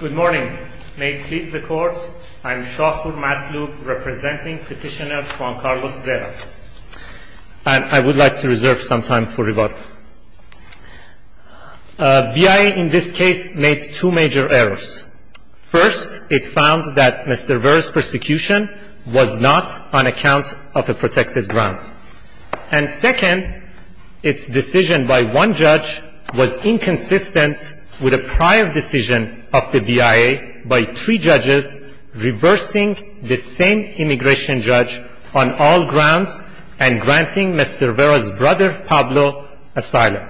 Good morning. May it please the Court, I am Shafour Matloub, representing Petitioner Juan Carlos Vera. I would like to reserve some time for rebuttal. BIA in this case made two major errors. First, it found that Mr. Vera's persecution was not on account of a protected ground. And second, its decision by one judge was inconsistent with a prior decision of the BIA by three judges, reversing the same immigration judge on all grounds and granting Mr. Vera's brother Pablo asylum.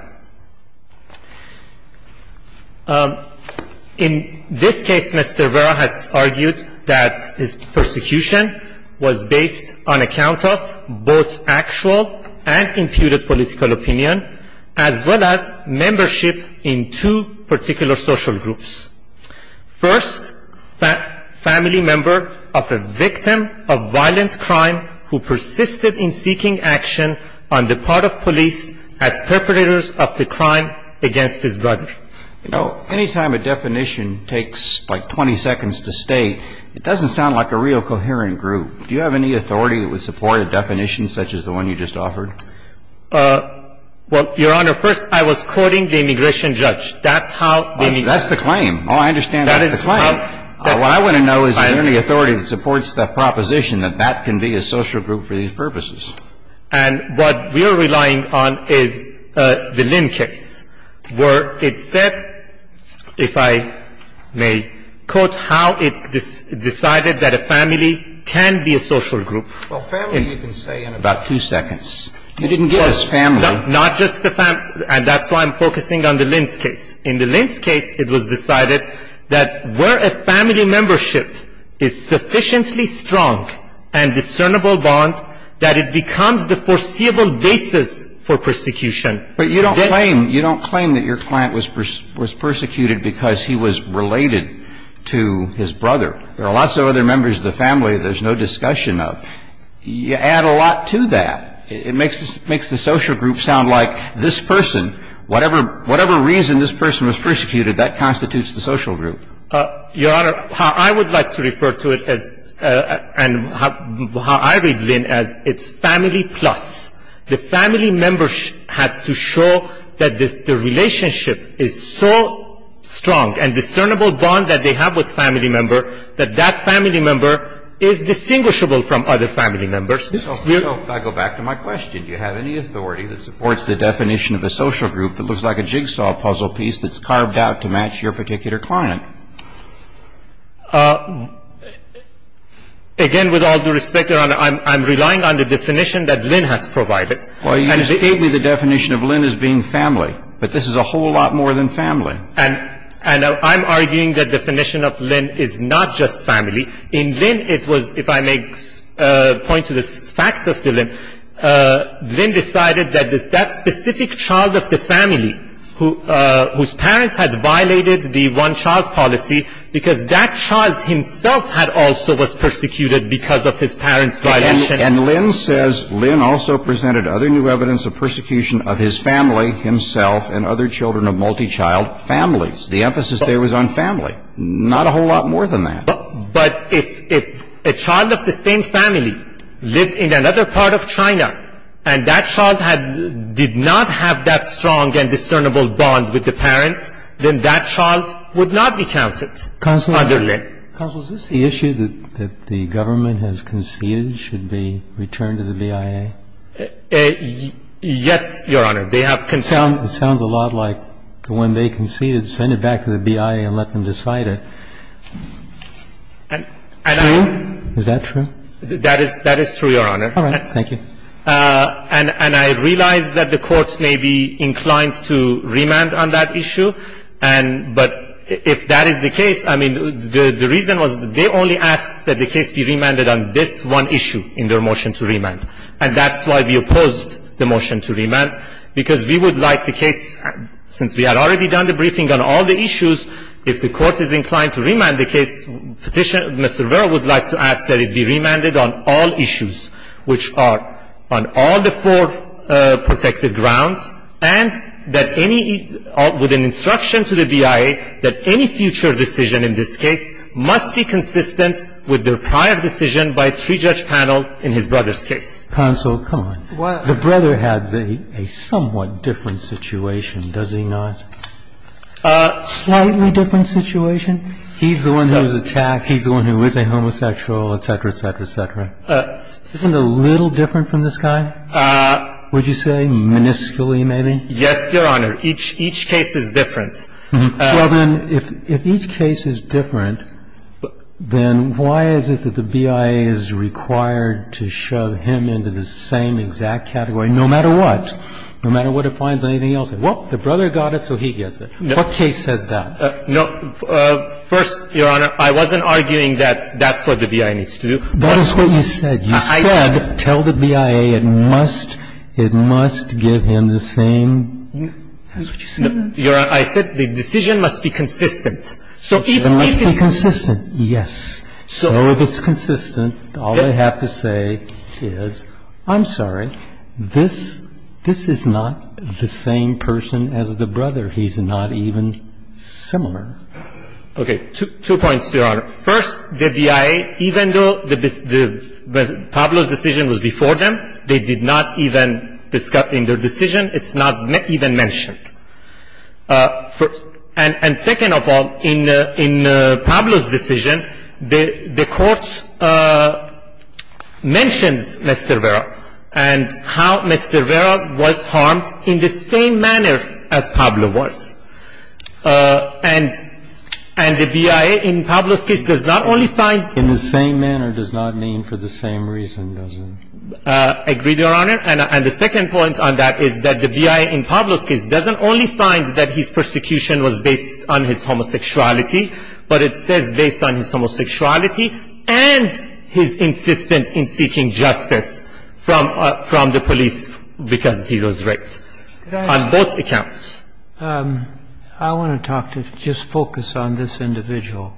In this case, Mr. Vera has argued that his persecution was based on account of both actual and imputed political opinion, as well as membership in two particular social groups. First, family member of a victim of violent crime who persisted in seeking action on the part of police as perpetrators of the crime against his brother. You know, any time a definition takes like 20 seconds to state, it doesn't sound like a real coherent group. Do you have any authority that would support a definition such as the one you just offered? Well, Your Honor, first I was quoting the immigration judge. That's how the immigration judge. That's the claim. All I understand is the claim. What I want to know is is there any authority that supports the proposition that that can be a social group for these purposes? And what we are relying on is the Lynn case, where it said, if I may quote, how it decided that a family can be a social group. Well, family you can say in about two seconds. You didn't give us family. Not just the family. And that's why I'm focusing on the Lynn's case. In the Lynn's case, it was decided that where a family membership is sufficiently strong and discernible bond, that it becomes the foreseeable basis for persecution. But you don't claim, you don't claim that your client was persecuted because he was related to his brother. There are lots of other members of the family there's no discussion of. You add a lot to that. It makes the social group sound like this person, whatever reason this person was persecuted, that constitutes the social group. Your Honor, I would like to refer to it as and how I read Lynn as it's family plus. The family member has to show that the relationship is so strong and discernible bond that they have with family member that that family member is distinguishable from other family members. So if I go back to my question, do you have any authority that supports the definition of a social group that looks like a jigsaw puzzle piece that's carved out to match your particular client? Again, with all due respect, Your Honor, I'm relying on the definition that Lynn has provided. Well, you just gave me the definition of Lynn as being family. But this is a whole lot more than family. And I'm arguing that definition of Lynn is not just family. In Lynn it was, if I may point to the facts of Lynn, Lynn decided that that specific child of the family whose parents had violated the one-child policy because that child himself had also was persecuted because of his parents' violation. And Lynn says Lynn also presented other new evidence of persecution of his family himself and other children of multi-child families. The emphasis there was on family. Not a whole lot more than that. But if a child of the same family lived in another part of China and that child did not have that strong and discernible bond with the parents, then that child would not be counted other than Lynn. Counsel, is this the issue that the government has conceded should be returned to the BIA? Yes, Your Honor. They have conceded. It sounds a lot like the one they conceded, send it back to the BIA and let them decide it. True? Is that true? That is true, Your Honor. All right. Thank you. And I realize that the courts may be inclined to remand on that issue. But if that is the case, I mean, the reason was they only asked that the case be remanded on this one issue in their motion to remand. And that's why we opposed the motion to remand. Because we would like the case, since we had already done the briefing on all the issues, if the court is inclined to remand the case, Mr. Vera would like to ask that it be remanded on all issues, which are on all the four protected grounds, and that any, with an instruction to the BIA, that any future decision in this case must be consistent with the prior decision by three-judge panel in his brother's case. Counsel, come on. The brother had a somewhat different situation, does he not? Slightly different situation? He's the one who was attacked. He's the one who was a homosexual, et cetera, et cetera, et cetera. Isn't it a little different from this guy? Would you say minuscule, maybe? Yes, Your Honor. Each case is different. Well, then, if each case is different, then why is it that the BIA is required to shove him into the same exact category, no matter what? No matter what it finds on anything else. Well, the brother got it, so he gets it. What case says that? First, Your Honor, I wasn't arguing that that's what the BIA needs to do. That is what you said. You said tell the BIA it must give him the same. That's what you said. Your Honor, I said the decision must be consistent. It must be consistent, yes. So if it's consistent, all I have to say is, I'm sorry, this is not the same person as the brother. He's not even similar. Okay. Two points, Your Honor. First, the BIA, even though Pablo's decision was before them, they did not even discuss in their decision, it's not even mentioned. And second of all, in Pablo's decision, the Court mentions Mr. Vera and how Mr. Vera was harmed in the same manner as Pablo was. And the BIA in Pablo's case does not only find him. In the same manner does not mean for the same reason, does it? Agreed, Your Honor. And the second point on that is that the BIA in Pablo's case doesn't only find that his persecution was based on his homosexuality, but it says based on his homosexuality and his insistence in seeking justice from the police because he was raped. On both accounts. I want to talk to, just focus on this individual.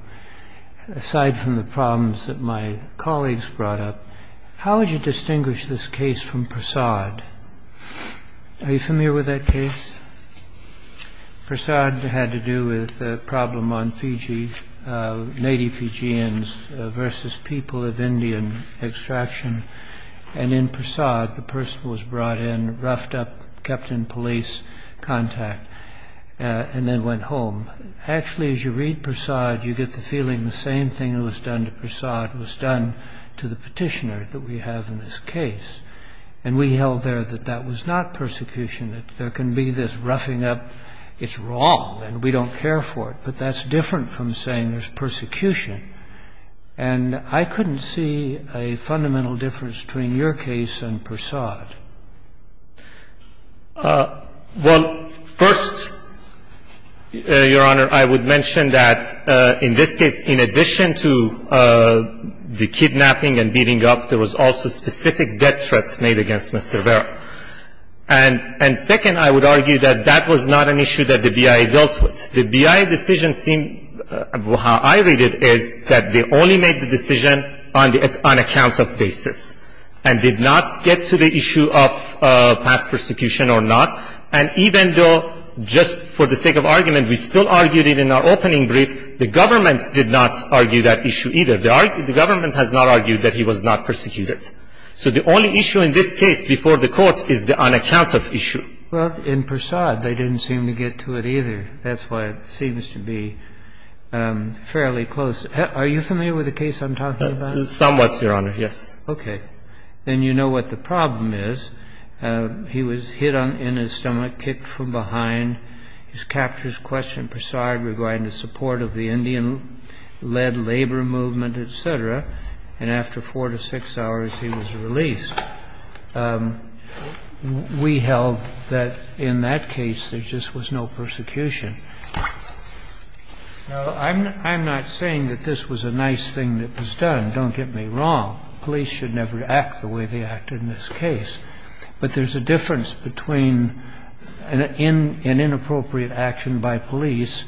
Aside from the problems that my colleagues brought up, how would you distinguish this case from Prasad? Are you familiar with that case? Prasad had to do with the problem on Fiji, native Fijians versus people of Indian extraction. And in Prasad, the person was brought in, roughed up, kept in police contact, and then went home. Actually, as you read Prasad, you get the feeling the same thing that was done to Prasad was done to the petitioner that we have in this case. And we held there that that was not persecution. There can be this roughing up. It's wrong, and we don't care for it. But that's different from saying there's persecution. And I couldn't see a fundamental difference between your case and Prasad. Well, first, Your Honor, I would mention that in this case, in addition to the kidnapping and beating up, there was also specific death threats made against Mr. Vera. And second, I would argue that that was not an issue that the BIA dealt with. The BIA decision seemed, how I read it, is that they only made the decision on an account of basis and did not get to the issue of past persecution or not. And even though, just for the sake of argument, we still argued it in our opening brief, the government did not argue that issue either. The government has not argued that he was not persecuted. So the only issue in this case before the Court is the unaccounted issue. Well, in Prasad, they didn't seem to get to it either. That's why it seems to be fairly close. Are you familiar with the case I'm talking about? Somewhat, Your Honor, yes. Okay. Then you know what the problem is. He was hit in his stomach, kicked from behind. His captors questioned Prasad regarding the support of the Indian-led labor movement, et cetera. And after four to six hours, he was released. We held that in that case, there just was no persecution. Now, I'm not saying that this was a nice thing that was done. Don't get me wrong. Police should never act the way they acted in this case. But there's a difference between an inappropriate action by police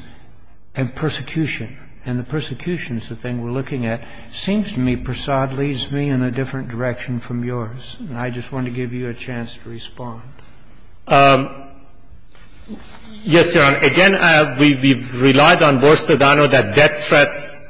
and persecution. And the persecution is the thing we're looking at. It seems to me Prasad leads me in a different direction from yours. And I just wanted to give you a chance to respond. Yes, Your Honor. Again, we've relied on Borsodano that death threats,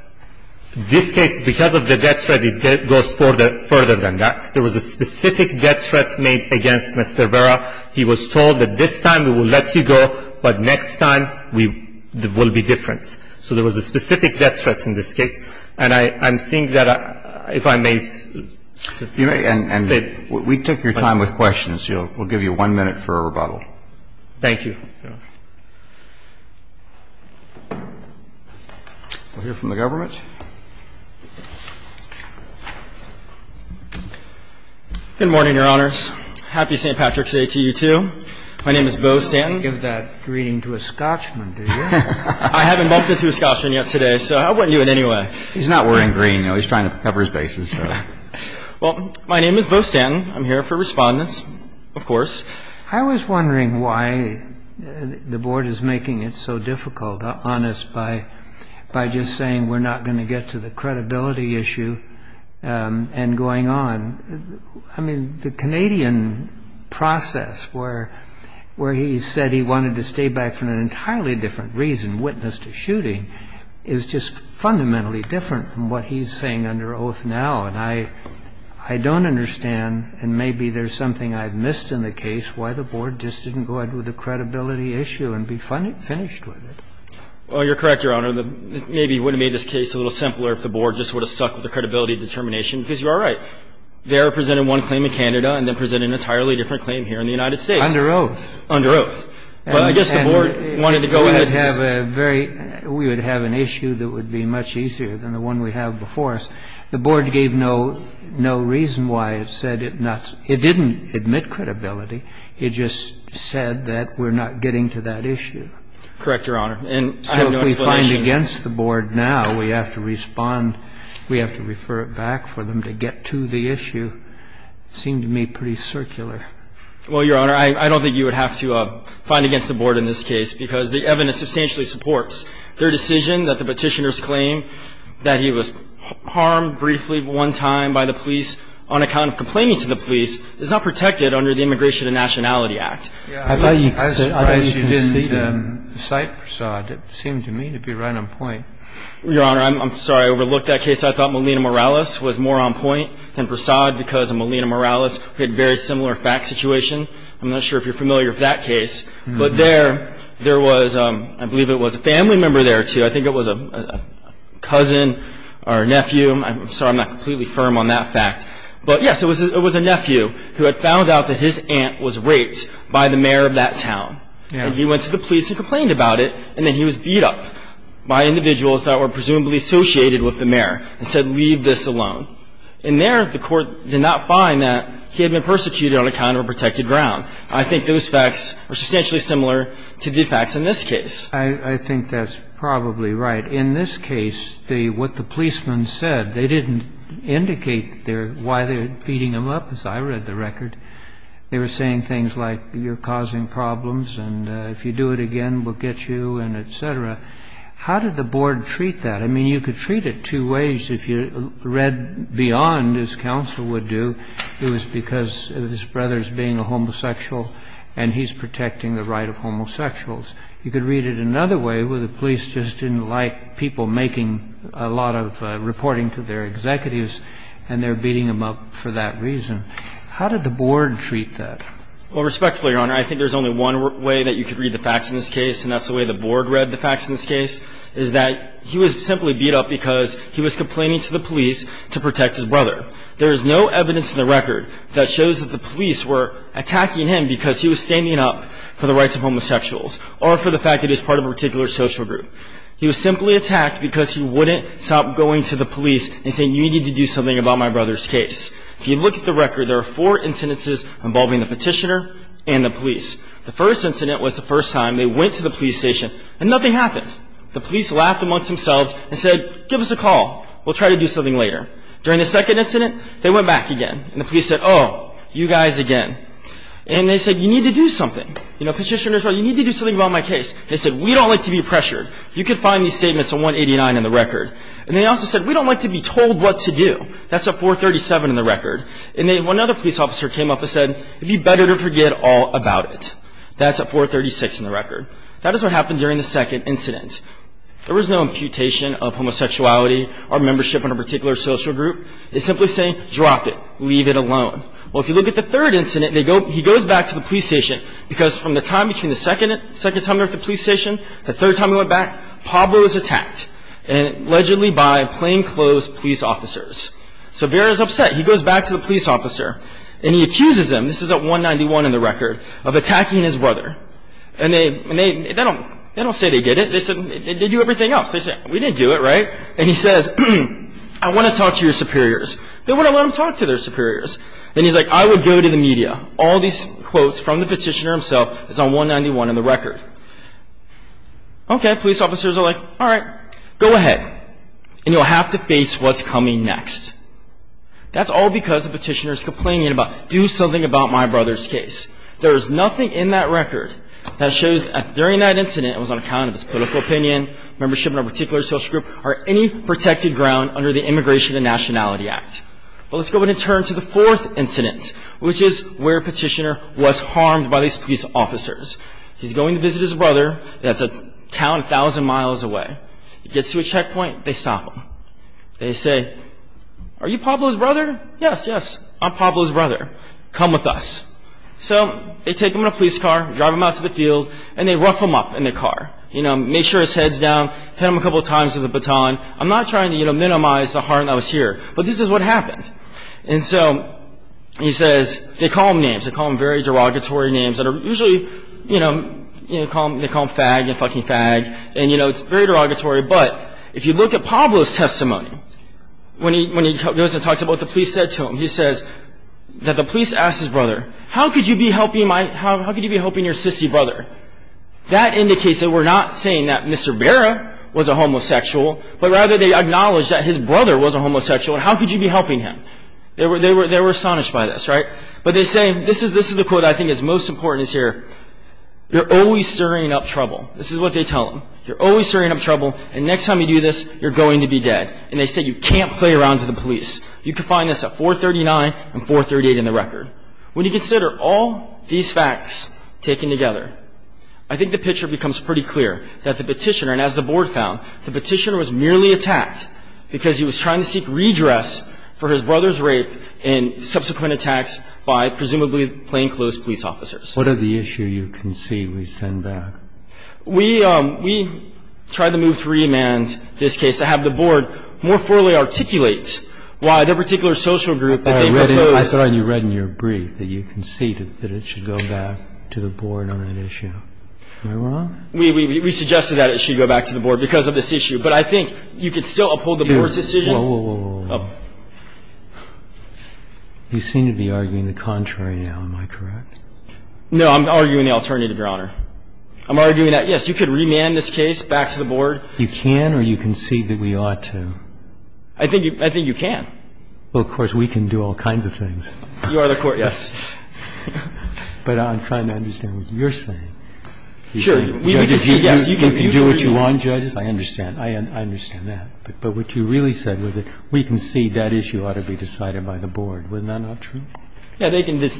this case, because of the death threat, it goes further than that. There was a specific death threat made against Mr. Vera. He was told that this time we will let you go, but next time we will be different. So there was a specific death threat in this case. And I'm seeing that, if I may say. And we took your time with questions. We'll give you one minute for a rebuttal. Thank you, Your Honor. We'll hear from the government. Good morning, Your Honors. Happy St. Patrick's Day to you, too. My name is Bo Stanton. You didn't give that greeting to a Scotchman, did you? I haven't bumped into a Scotchman yet today, so I wouldn't do it anyway. He's not wearing green, though. He's trying to cover his bases. Well, my name is Bo Stanton. I'm here for Respondents, of course. I was wondering why the board is making it so difficult on us by just saying we're not going to get to the credibility issue and going on. I mean, the Canadian process where he said he wanted to stay back for an entirely different reason, witness to shooting, is just fundamentally different from what he's saying under oath now. And I don't understand, and maybe there's something I've missed in the case, why the board just didn't go ahead with the credibility issue and be finished with it. Well, you're correct, Your Honor. Maybe it would have made this case a little simpler if the board just would have stuck with the credibility determination, because you are right. They are presenting one claim in Canada and then presenting an entirely different claim here in the United States. Under oath. Under oath. But I guess the board wanted to go ahead. We would have an issue that would be much easier than the one we have before us. The board gave no reason why it said it didn't admit credibility. It just said that we're not getting to that issue. Correct, Your Honor. And I have no explanation. So if we find against the board now, we have to respond. We have to refer it back for them to get to the issue. It seemed to me pretty circular. Well, Your Honor, I don't think you would have to find against the board in this case, because the evidence substantially supports their decision that the Petitioner's claim that he was harmed briefly one time by the police on account of complaining to the police is not protected under the Immigration and Nationality Act. I thought you didn't cite Prasad. It seemed to me to be right on point. Your Honor, I'm sorry. I overlooked that case. I thought Melina Morales was more on point than Prasad because of Melina Morales. We had a very similar fact situation. I'm not sure if you're familiar with that case. But there was, I believe it was a family member there, too. I think it was a cousin or nephew. I'm sorry I'm not completely firm on that fact. But, yes, it was a nephew who had found out that his aunt was raped by the mayor of that town. And he went to the police and complained about it, and then he was beat up by individuals that were presumably associated with the mayor and said, leave this alone. And there the court did not find that he had been persecuted on account of a protected ground. I think those facts are substantially similar to the facts in this case. I think that's probably right. In this case, what the policemen said, they didn't indicate why they were beating him up, as I read the record. They were saying things like, you're causing problems, and if you do it again, we'll get you, and et cetera. How did the board treat that? I mean, you could treat it two ways. If you read beyond, as counsel would do, it was because of his brothers being a homosexual and he's protecting the right of homosexuals. You could read it another way where the police just didn't like people making a lot of reporting to their executives, and they're beating him up for that reason. How did the board treat that? Well, respectfully, Your Honor, I think there's only one way that you could read the facts in this case, and that's the way the board read the facts in this case, is that he was simply beat up because he was complaining to the police to protect his brother. There is no evidence in the record that shows that the police were attacking him because he was standing up for the rights of homosexuals or for the fact that he was part of a particular social group. He was simply attacked because he wouldn't stop going to the police and saying, you need to do something about my brother's case. If you look at the record, there are four incidences involving the petitioner and the police. The first incident was the first time they went to the police station, and nothing happened. The police laughed amongst themselves and said, give us a call. We'll try to do something later. During the second incident, they went back again, and the police said, oh, you guys again. And they said, you need to do something. You know, petitioner said, you need to do something about my case. They said, we don't like to be pressured. You can find these statements on 189 in the record. And they also said, we don't like to be told what to do. That's at 437 in the record. And then one other police officer came up and said, it would be better to forget all about it. That's at 436 in the record. That is what happened during the second incident. There was no imputation of homosexuality or membership in a particular social group. They simply say, drop it. Leave it alone. Well, if you look at the third incident, he goes back to the police station, because from the time between the second time they were at the police station, the third time they went back, Pablo was attacked, allegedly by plainclothes police officers. So Vera's upset. He goes back to the police officer, and he accuses him, this is at 191 in the record, of attacking his brother. And they don't say they get it. They do everything else. They say, we didn't do it, right? And he says, I want to talk to your superiors. They wouldn't let him talk to their superiors. And he's like, I would go to the media. All these quotes from the petitioner himself is on 191 in the record. Okay, police officers are like, all right, go ahead. And you'll have to face what's coming next. That's all because the petitioner is complaining about, do something about my brother's case. There is nothing in that record that shows that during that incident, it was on account of his political opinion, membership in a particular social group, or any protected ground under the Immigration and Nationality Act. Well, let's go ahead and turn to the fourth incident, which is where petitioner was harmed by these police officers. He's going to visit his brother. That's a town 1,000 miles away. He gets to a checkpoint. They stop him. They say, are you Pablo's brother? Yes, yes, I'm Pablo's brother. Come with us. So they take him in a police car, drive him out to the field, and they rough him up in the car, make sure his head's down, hit him a couple times with a baton. I'm not trying to minimize the harm that was here, but this is what happened. And so he says, they call him names. They call him very derogatory names that are usually, you know, they call him fag and fucking fag. And, you know, it's very derogatory. But if you look at Pablo's testimony, when he goes and talks about what the police said to him, he says that the police asked his brother, how could you be helping your sissy brother? That indicates they were not saying that Mr. Vera was a homosexual, but rather they acknowledged that his brother was a homosexual. How could you be helping him? They were astonished by this, right? But they say, this is the quote I think is most important here, you're always stirring up trouble. This is what they tell him. You're always stirring up trouble, and next time you do this, you're going to be dead. And they say, you can't play around with the police. You can find this at 439 and 438 in the record. When you consider all these facts taken together, I think the picture becomes pretty clear that the petitioner, and as the board found, the petitioner was merely attacked because he was trying to seek redress for his brother's rape and subsequent attacks by presumably plainclothes police officers. What are the issues you can see we send back? We tried to move to remand this case to have the board more fully articulate why the particular social group that they proposed. I thought you read in your brief that you conceded that it should go back to the board on that issue. Am I wrong? We suggested that it should go back to the board because of this issue. But I think you could still uphold the board's decision. Whoa, whoa, whoa, whoa, whoa. You seem to be arguing the contrary now. Am I correct? No, I'm arguing the alternative, Your Honor. I'm arguing that, yes, you could remand this case back to the board. You can or you concede that we ought to? I think you can. Well, of course, we can do all kinds of things. You are the court, yes. But I'm trying to understand what you're saying. Sure. We can concede, yes. You can do what you want, judges. I understand. I understand that. But what you really said was that we concede that issue ought to be decided by the board. Wasn't that not true? Yes,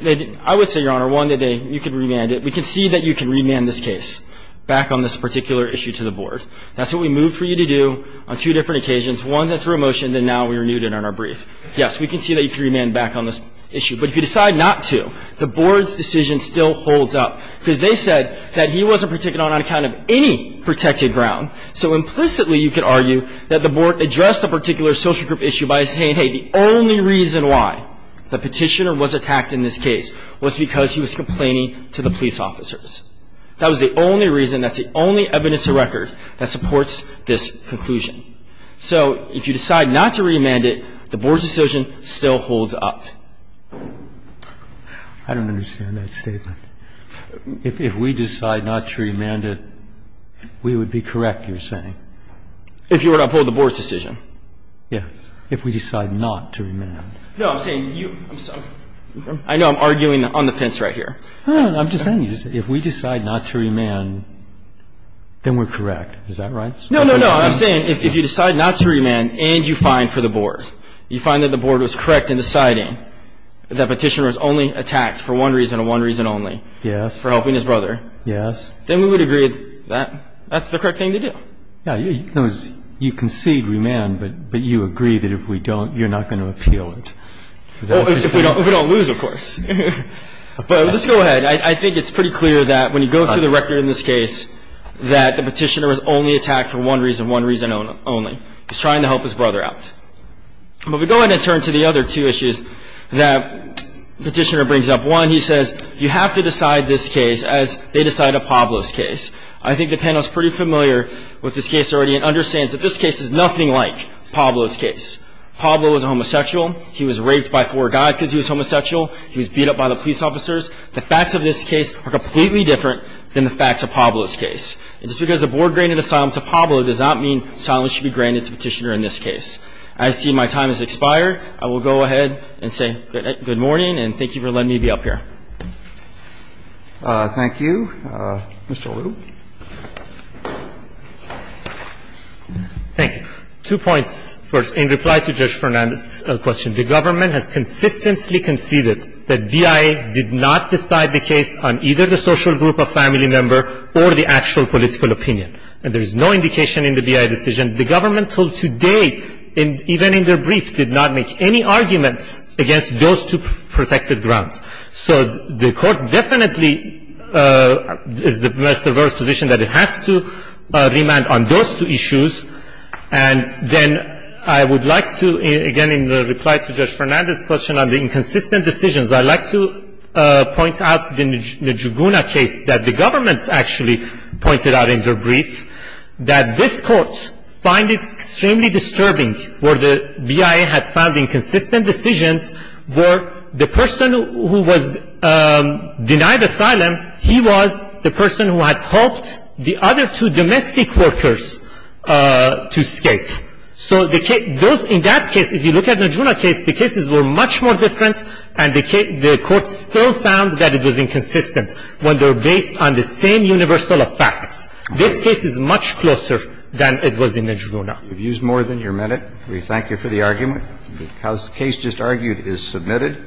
they can. I would say, Your Honor, one, that you can remand it. We concede that you can remand this case back on this particular issue to the board. That's what we moved for you to do on two different occasions, one that threw a motion, and now we renewed it on our brief. Yes, we concede that you can remand back on this issue. But if you decide not to, the board's decision still holds up, because they said that he wasn't particularly on account of any protected ground. So implicitly, you could argue that the board addressed a particular social group issue by saying, hey, the only reason why the petitioner was attacked in this case was because he was complaining to the police officers. That was the only reason, that's the only evidence to record that supports this conclusion. So if you decide not to remand it, the board's decision still holds up. I don't understand that statement. If we decide not to remand it, we would be correct, you're saying? If you were to uphold the board's decision. Yes. If we decide not to remand. No, I'm saying you. I know I'm arguing on the fence right here. I'm just saying, if we decide not to remand, then we're correct. Is that right? No, no, no. I'm saying if you decide not to remand and you find for the board, you find that the board was correct in deciding that the petitioner was only attacked for one reason and one reason only. Yes. For helping his brother. Yes. Then we would agree that that's the correct thing to do. Yeah. In other words, you concede remand, but you agree that if we don't, you're not going to appeal it. Is that what you're saying? If we don't lose, of course. But let's go ahead. I think it's pretty clear that when you go through the record in this case, that the petitioner was only attacked for one reason and one reason only. He was trying to help his brother out. But we go ahead and turn to the other two issues that the petitioner brings up. One, he says you have to decide this case as they decide a Pablos case. I think the panel is pretty familiar with this case already and understands that this case is nothing like Pablo's case. Pablo was a homosexual. He was raped by four guys because he was homosexual. He was beat up by the police officers. The facts of this case are completely different than the facts of Pablo's case. And just because the board granted asylum to Pablo does not mean asylum should be granted to the petitioner in this case. I see my time has expired. I will go ahead and say good morning and thank you for letting me be up here. Thank you. Mr. Aru. Thank you. Two points. First, in reply to Judge Fernandez's question, the government has consistently conceded that BIA did not decide the case on either the social group, a family member, or the actual political opinion. And there is no indication in the BIA decision. The government until today, even in their brief, did not make any arguments against those two protected grounds. So the court definitely is the best or worst position that it has to remand on those two issues. And then I would like to, again, in reply to Judge Fernandez's question on the inconsistent decisions, I'd like to point out the Juguna case that the government actually pointed out in their brief, that this court finds it extremely disturbing where the BIA had found inconsistent decisions where the person who was denied asylum, he was the person who had helped the other two domestic workers to escape. So in that case, if you look at the Juguna case, the cases were much more different and the court still found that it was inconsistent when they were based on the same universal effects. This case is much closer than it was in the Juguna. We've used more than your minute. We thank you for the argument. The case just argued is submitted.